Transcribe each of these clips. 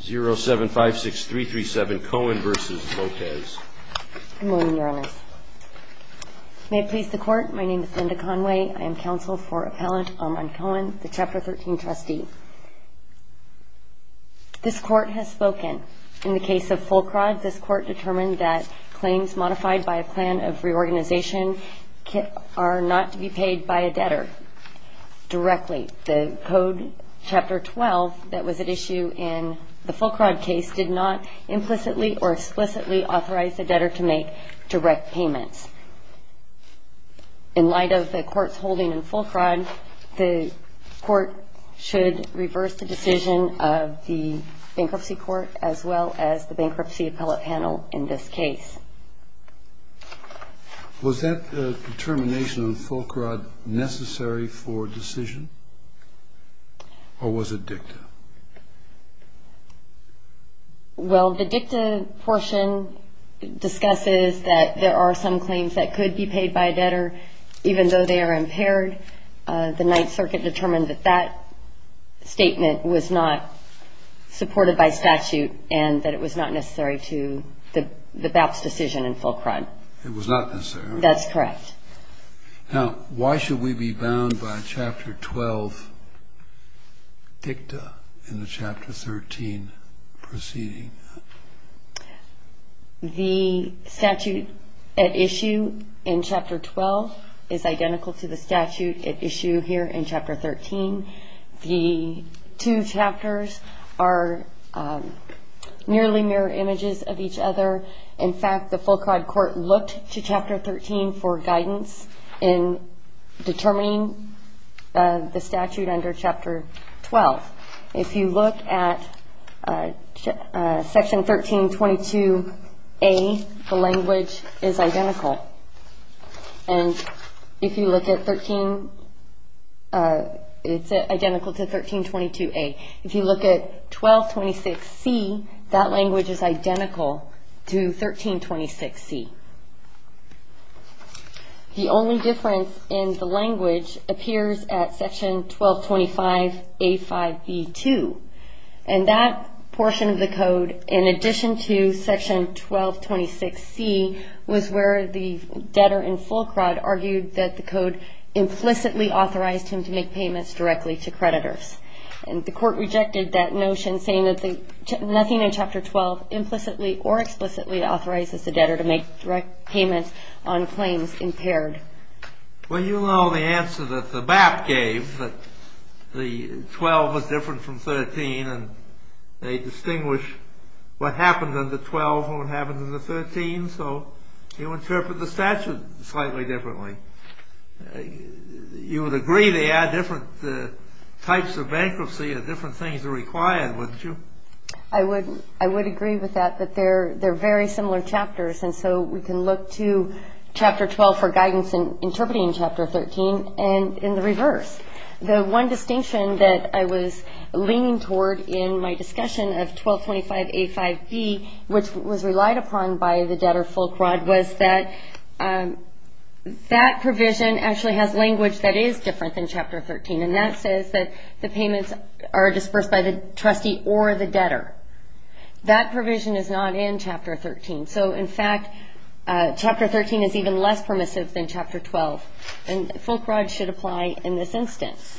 0756337 Cohen v. Lopez. Good morning, Your Honors. May it please the Court, my name is Linda Conway. I am counsel for Appellant Armand Cohen, the Chapter 13 trustee. This Court has spoken. In the case of Fulcrod, this Court determined that claims modified by a plan of reorganization are not to be paid by a debtor directly. The Code Chapter 12 that was at issue in the Fulcrod case did not implicitly or explicitly authorize a debtor to make direct payments. In light of the Court's holding in Fulcrod, the Court should reverse the decision of the Bankruptcy Court as well as the Bankruptcy Appellate Panel in this case. Was that determination in Fulcrod necessary for decision, or was it dicta? Well, the dicta portion discusses that there are some claims that could be paid by a debtor, even though they are impaired. The Ninth Circuit determined that that statement was not supported by statute and that it was not necessary to the BAP's decision in Fulcrod. It was not necessary? That's correct. Now, why should we be bound by Chapter 12 dicta in the Chapter 13 proceeding? The statute at issue in Chapter 12 is identical to the statute at issue here in Chapter 13. The two chapters are nearly mirror images of each other. In fact, the Fulcrod Court looked to Chapter 13 for guidance in determining the statute under Chapter 12. If you look at Section 1322A, the language is identical. And if you look at 13, it's identical to 1322A. If you look at 1226C, that language is identical to 1326C. The only difference in the language appears at Section 1225A5B2. And that portion of the code, in addition to Section 1226C, was where the debtor in Fulcrod argued that the code implicitly authorized him to make payments directly to creditors. And the court rejected that notion, saying that nothing in Chapter 12 implicitly or explicitly authorizes the debtor to make direct payments on claims impaired. Well, you know the answer that the BAP gave, that the 12 was different from 13, and they distinguish what happened under 12 from what happened under 13. So you interpret the statute slightly differently. You would agree they had different types of bankruptcy and different things required, wouldn't you? I would agree with that, that they're very similar chapters. And so we can look to Chapter 12 for guidance in interpreting Chapter 13 and in the reverse. The one distinction that I was leaning toward in my discussion of 1225A5B, which was relied upon by the debtor Fulcrod, was that that provision actually has language that is different than Chapter 13, and that says that the payments are dispersed by the trustee or the debtor. That provision is not in Chapter 13. So, in fact, Chapter 13 is even less permissive than Chapter 12, and Fulcrod should apply in this instance.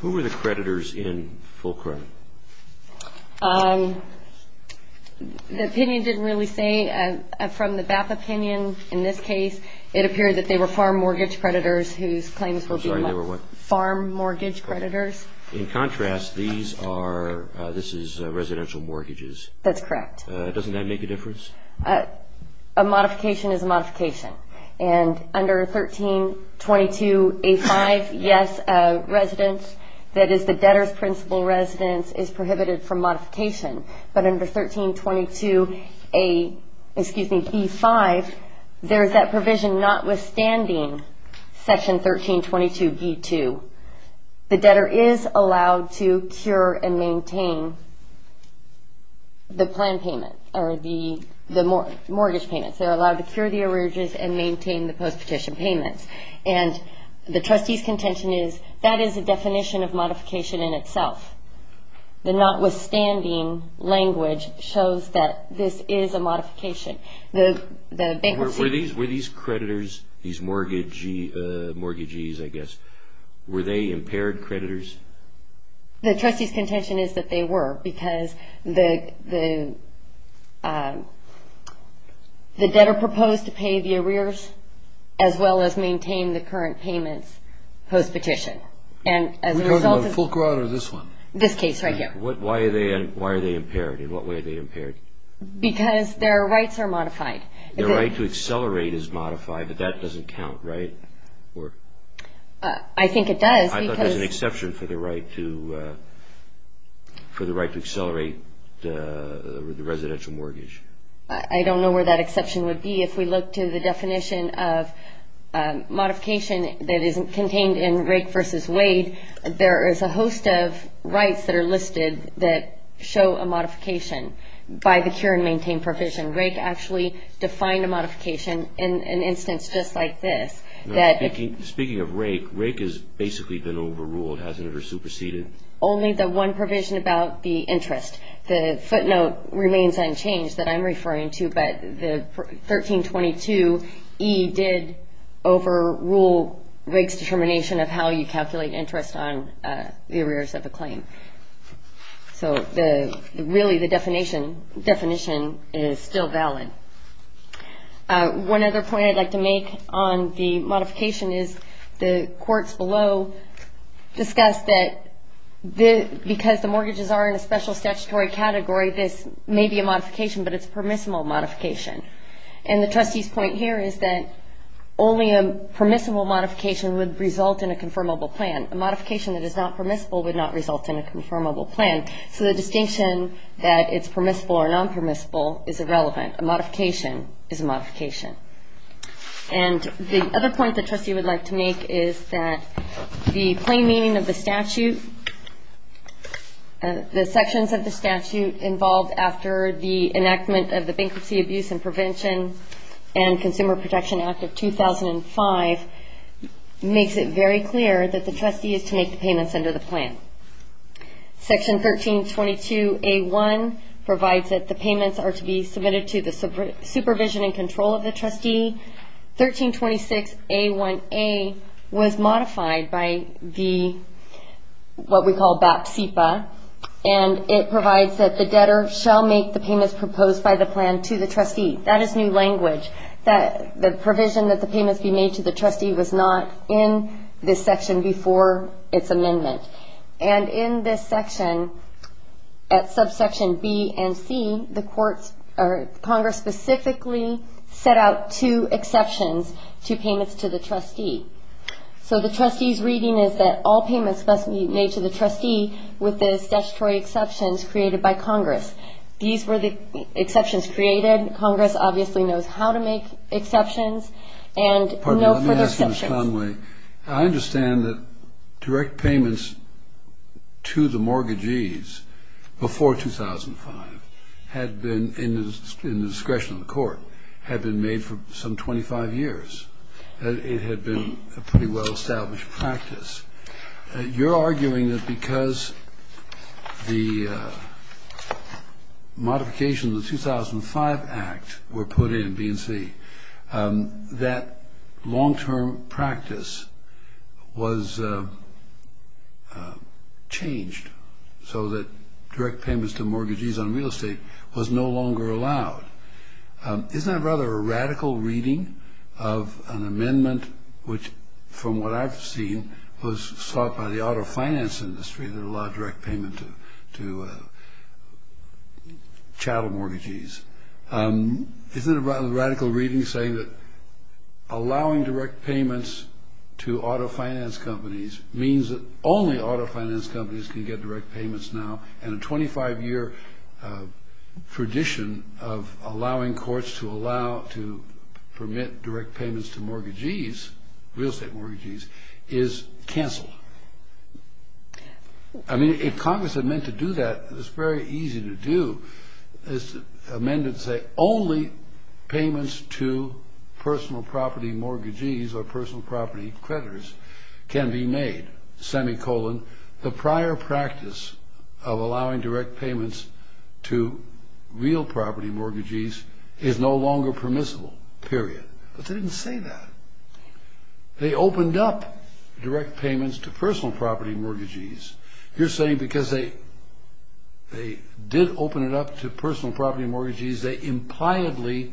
Who were the creditors in Fulcrod? The opinion didn't really say. From the BAP opinion in this case, it appeared that they were farm mortgage creditors whose claims were being made. I'm sorry, they were what? Farm mortgage creditors. In contrast, these are residential mortgages. That's correct. Doesn't that make a difference? A modification is a modification. Under 1322A5, yes, residents, that is the debtor's principal residence, is prohibited from modification. But under 1322B5, there is that provision notwithstanding Section 1322B2. The debtor is allowed to cure and maintain the plan payment or the mortgage payment. They're allowed to cure the arrearages and maintain the post-petition payments. And the trustee's contention is that is a definition of modification in itself. The notwithstanding language shows that this is a modification. Were these creditors, these mortgagees, I guess, were they impaired creditors? The trustee's contention is that they were because the debtor proposed to pay the arrears as well as maintain the current payments post-petition. And as a result of this case right here. Why are they impaired? In what way are they impaired? Because their rights are modified. Their right to accelerate is modified, but that doesn't count, right? I think it does because There is an exception for the right to accelerate the residential mortgage. I don't know where that exception would be. If we look to the definition of modification that is contained in Rake v. Wade, there is a host of rights that are listed that show a modification by the cure and maintain provision. Rake actually defined a modification in an instance just like this. Speaking of Rake, Rake has basically been overruled, hasn't it? Or superseded? Only the one provision about the interest. The footnote remains unchanged that I'm referring to, but the 1322E did overrule Rake's determination of how you calculate interest on the arrears of a claim. So really the definition is still valid. One other point I'd like to make on the modification is the courts below discussed that because the mortgages are in a special statutory category, this may be a modification, but it's a permissible modification. And the trustee's point here is that only a permissible modification would result in a confirmable plan. A modification that is not permissible would not result in a confirmable plan. So the distinction that it's permissible or non-permissible is irrelevant. A modification is a modification. And the other point the trustee would like to make is that the plain meaning of the statute, the sections of the statute involved after the enactment of the Bankruptcy, Abuse and Prevention and Consumer Protection Act of 2005 makes it very clear that the trustee is to make the payments under the plan. Section 1322A1 provides that the payments are to be submitted to the supervision and control of the trustee. 1326A1A was modified by what we call BAP-CEPA, and it provides that the debtor shall make the payments proposed by the plan to the trustee. That is new language. The provision that the payments be made to the trustee was not in this section before its amendment. And in this section, at subsection B and C, Congress specifically set out two exceptions to payments to the trustee. So the trustee's reading is that all payments must be made to the trustee with the statutory exceptions created by Congress. These were the exceptions created. Congress obviously knows how to make exceptions and no further exceptions. I understand that direct payments to the mortgagees before 2005 had been, in the discretion of the court, had been made for some 25 years. It had been a pretty well-established practice. You're arguing that because the modifications of the 2005 Act were put in B and C, that long-term practice was changed so that direct payments to mortgagees on real estate was no longer allowed. Isn't that rather a radical reading of an amendment which, from what I've seen, was sought by the auto finance industry that allowed direct payment to chattel mortgagees? Isn't it a radical reading saying that allowing direct payments to auto finance companies means that only auto finance companies can get direct payments now? And a 25-year tradition of allowing courts to permit direct payments to mortgagees, real estate mortgagees, is canceled. I mean, if Congress had meant to do that, it's very easy to do. This amendment would say only payments to personal property mortgagees or personal property creditors can be made, semicolon. The prior practice of allowing direct payments to real property mortgagees is no longer permissible, period. But they didn't say that. They opened up direct payments to personal property mortgagees. You're saying because they did open it up to personal property mortgagees, they impliedly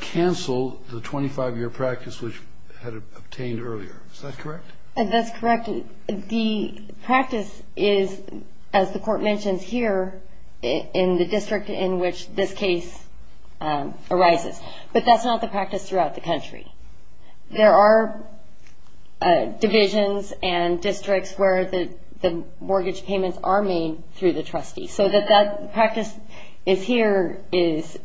canceled the 25-year practice which had obtained earlier. Is that correct? That's correct. The practice is, as the court mentions here, in the district in which this case arises. But that's not the practice throughout the country. There are divisions and districts where the mortgage payments are made through the trustee. So the practice here is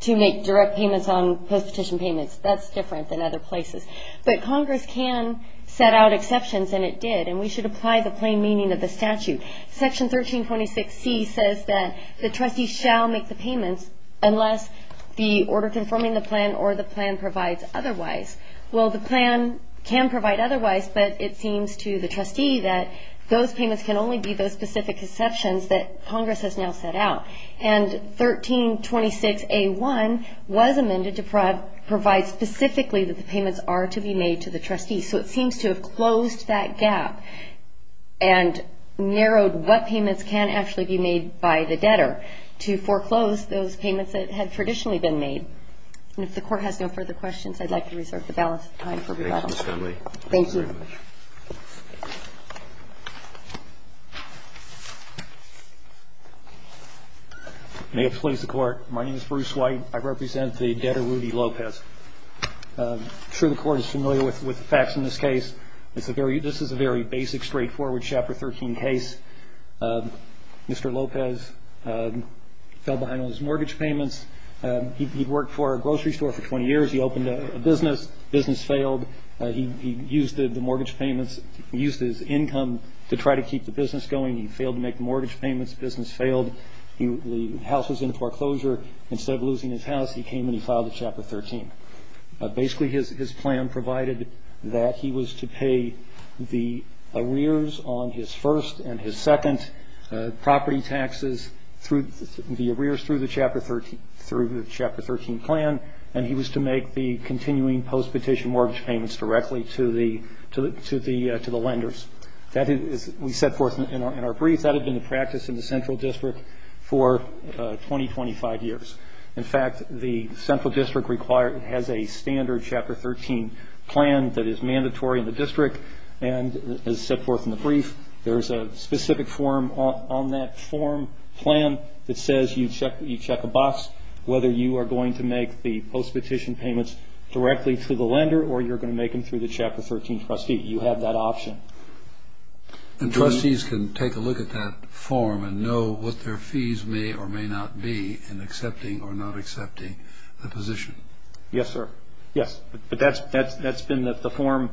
to make direct payments on post-petition payments. That's different than other places. But Congress can set out exceptions, and it did. And we should apply the plain meaning of the statute. Section 1326C says that the trustee shall make the payments unless the order confirming the plan or the plan provides otherwise. Well, the plan can provide otherwise, but it seems to the trustee that those payments can only be those specific exceptions that Congress has now set out. And 1326A1 was amended to provide specifically that the payments are to be made to the trustee. So it seems to have closed that gap and narrowed what payments can actually be made by the debtor to foreclose those payments that had traditionally been made. And if the court has no further questions, I'd like to reserve the balance of time for rebuttal. Thank you, Ms. Connelly. Thank you. May it please the Court. My name is Bruce White. I represent the debtor, Rudy Lopez. I'm sure the Court is familiar with the facts in this case. This is a very basic, straightforward Chapter 13 case. Mr. Lopez fell behind on his mortgage payments. He'd worked for a grocery store for 20 years. He opened a business. Business failed. He used the mortgage payments, used his income to try to keep the business going. He failed to make the mortgage payments. Business failed. The house was in foreclosure. Instead of losing his house, he came and he filed a Chapter 13. Basically, his plan provided that he was to pay the arrears on his first and his second property taxes through the arrears through the Chapter 13 plan, and he was to make the continuing post-petition mortgage payments directly to the lenders. We set forth in our brief, that had been the practice in the Central District for 20, 25 years. In fact, the Central District has a standard Chapter 13 plan that is mandatory in the District and is set forth in the brief. There is a specific form on that form plan that says you check a box whether you are going to make the post-petition payments directly to the lender or you're going to make them through the Chapter 13 trustee. You have that option. And trustees can take a look at that form and know what their fees may or may not be in accepting or not accepting the position. Yes, sir. Yes. But that's been the form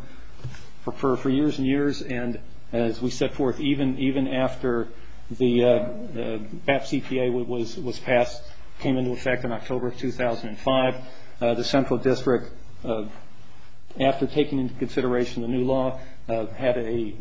for years and years. And as we set forth, even after the BAP CPA was passed, came into effect in October of 2005, the Central District, after taking into consideration the new law, had a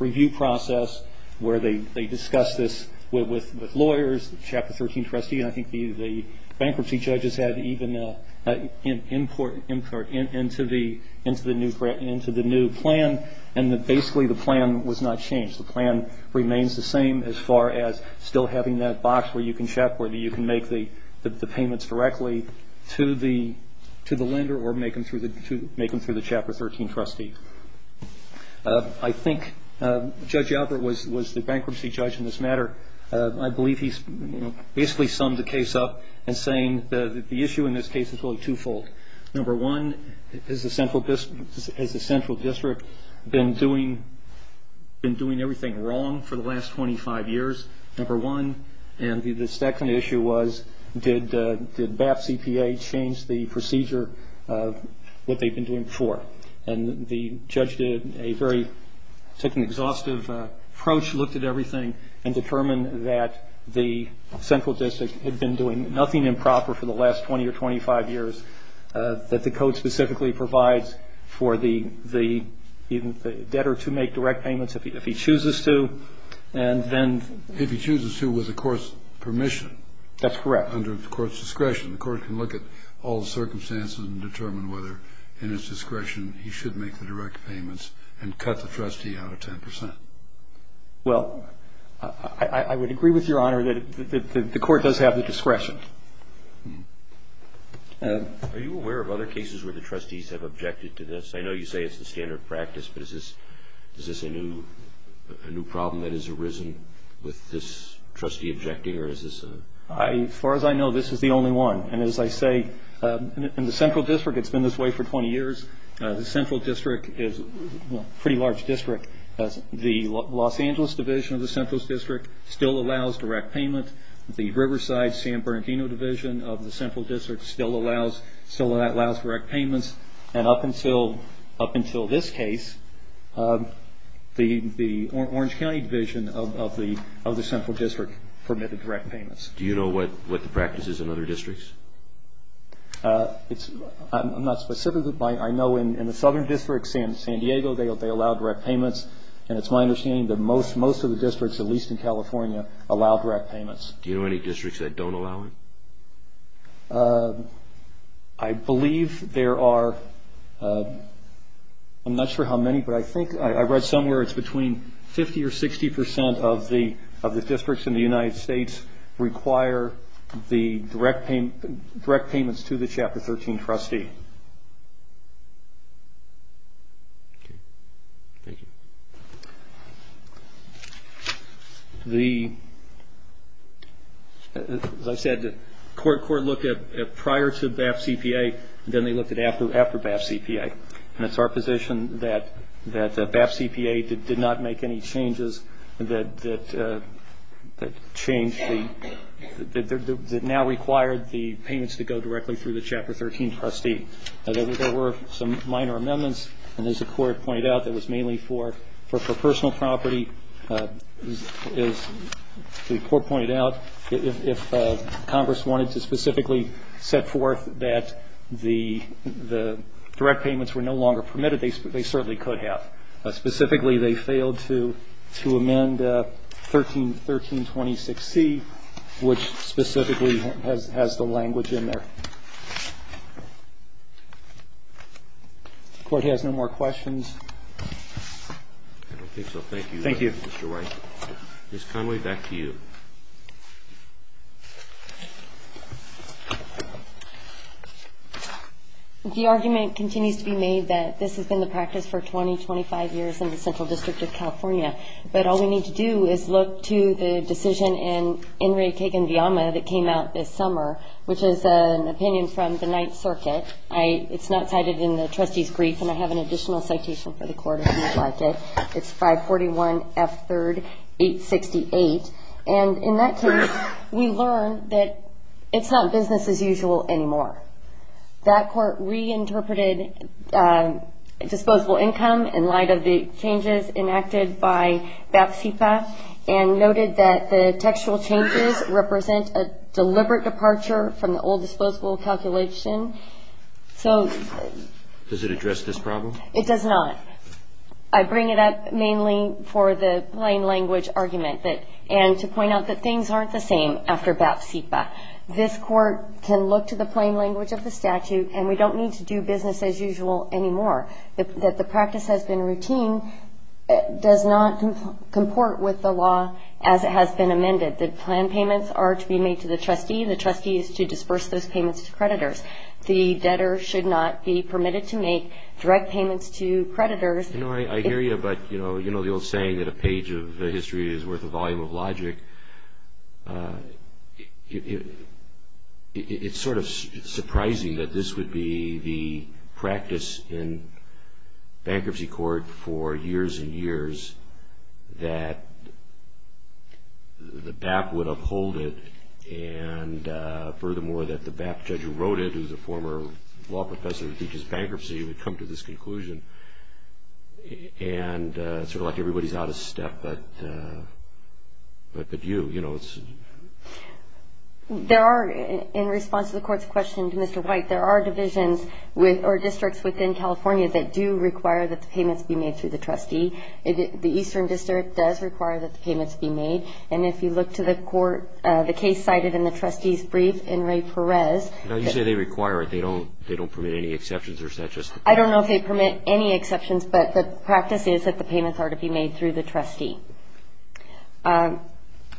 review process where they discussed this with lawyers, the Chapter 13 trustee, and I think the bankruptcy judges had even an input into the new plan, and basically the plan was not changed. The plan remains the same as far as still having that box where you can check, where you can make the payments directly to the lender or make them through the Chapter 13 trustee. I think Judge Albert was the bankruptcy judge in this matter. I believe he basically summed the case up in saying the issue in this case is really twofold. Number one, has the Central District been doing everything wrong for the last 25 years? Number one. And the second issue was did BAP CPA change the procedure of what they've been doing before? And the judge did a very ‑‑ took an exhaustive approach, looked at everything, and determined that the Central District had been doing nothing improper for the last 20 or 25 years, that the code specifically provides for the debtor to make direct payments if he chooses to, and then ‑‑ If he chooses to with the court's permission. That's correct. Under the court's discretion. The court can look at all the circumstances and determine whether, in its discretion, he should make the direct payments and cut the trustee out of 10%. Well, I would agree with Your Honor that the court does have the discretion. Are you aware of other cases where the trustees have objected to this? I know you say it's the standard practice, but is this a new problem that has arisen with this trustee objecting, or is this a ‑‑ As far as I know, this is the only one. And as I say, in the Central District, it's been this way for 20 years. The Central District is a pretty large district. The Los Angeles Division of the Central District still allows direct payment. The Riverside San Bernardino Division of the Central District still allows direct payments. And up until this case, the Orange County Division of the Central District permitted direct payments. Do you know what the practice is in other districts? I'm not specific. I know in the Southern District, San Diego, they allow direct payments. And it's my understanding that most of the districts, at least in California, allow direct payments. Do you know any districts that don't allow it? I believe there are ‑‑ I'm not sure how many, but I think I read somewhere it's between 50 or 60% of the districts in the United States require the direct payments to the Chapter 13 trustee. Okay. Thank you. The ‑‑ as I said, the court looked at prior to BAP CPA, then they looked at after BAP CPA. And it's our position that BAP CPA did not make any changes that changed the ‑‑ that now required the payments to go directly through the Chapter 13 trustee. There were some minor amendments, and as the court pointed out, that was mainly for personal property. As the court pointed out, if Congress wanted to specifically set forth that the direct payments were no longer permitted, they certainly could have. Specifically, they failed to amend 1326C, which specifically has the language in there. The court has no more questions. I don't think so. Thank you. Thank you. Mr. Wright. Ms. Connelly, back to you. The argument continues to be made that this has been the practice for 20, 25 years in the Central District of California. But all we need to do is look to the decision in Enrique Guevara that came out this summer, which is an opinion from the Ninth Circuit. It's not cited in the trustee's brief, and I have an additional citation for the court, if you'd like it. It's 541F3 868. And in that case, we learned that it's not business as usual anymore. That court reinterpreted disposable income in light of the changes enacted by BAP CPA and noted that the textual changes represent a deliberate departure from the old disposable calculation. Does it address this problem? It does not. I bring it up mainly for the plain language argument and to point out that things aren't the same after BAP CPA. This court can look to the plain language of the statute, and we don't need to do business as usual anymore. That the practice has been routine does not comport with the law as it has been amended. The plan payments are to be made to the trustee. The trustee is to disperse those payments to creditors. The debtor should not be permitted to make direct payments to creditors. You know, I hear you, but, you know, the old saying that a page of history is worth a volume of logic, it's sort of surprising that this would be the practice in bankruptcy court for years and years, that the BAP would uphold it, and furthermore, that the BAP judge who wrote it, who's a former law professor who teaches bankruptcy, would come to this conclusion. And it's sort of like everybody's out of step, but you, you know, it's... There are, in response to the court's question to Mr. White, there are divisions or districts within California that do require that the payments be made to the trustee. The Eastern District does require that the payments be made, and if you look to the court, the case cited in the trustee's brief in Ray Perez... Now, you say they require it. They don't permit any exceptions, or is that just... I don't know if they permit any exceptions, but the practice is that the payments are to be made through the trustee.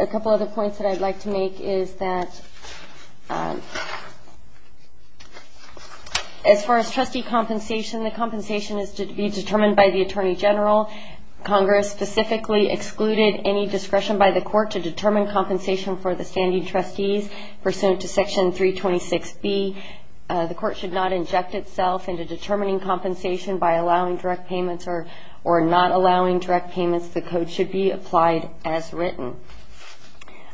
A couple other points that I'd like to make is that as far as trustee compensation, the compensation is to be determined by the attorney general. Congress specifically excluded any discretion by the court to determine compensation for the standing trustees pursuant to Section 326B. The court should not inject itself into determining compensation by allowing direct payments or not allowing direct payments. The code should be applied as written.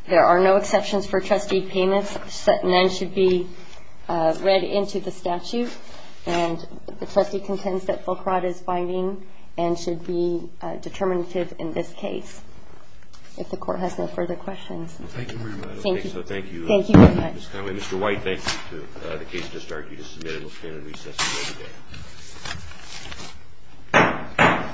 There are no exceptions for trustee payments. None should be read into the statute, and the trustee contends that Fulcrot is binding and should be determinative in this case. If the court has no further questions. Thank you, Madam. Thank you. Thank you. Thank you very much. Thank you, Mr. Conway. Mr. White, thank you, too. The case has just argued. It's submitted. We'll stand at recess until the day.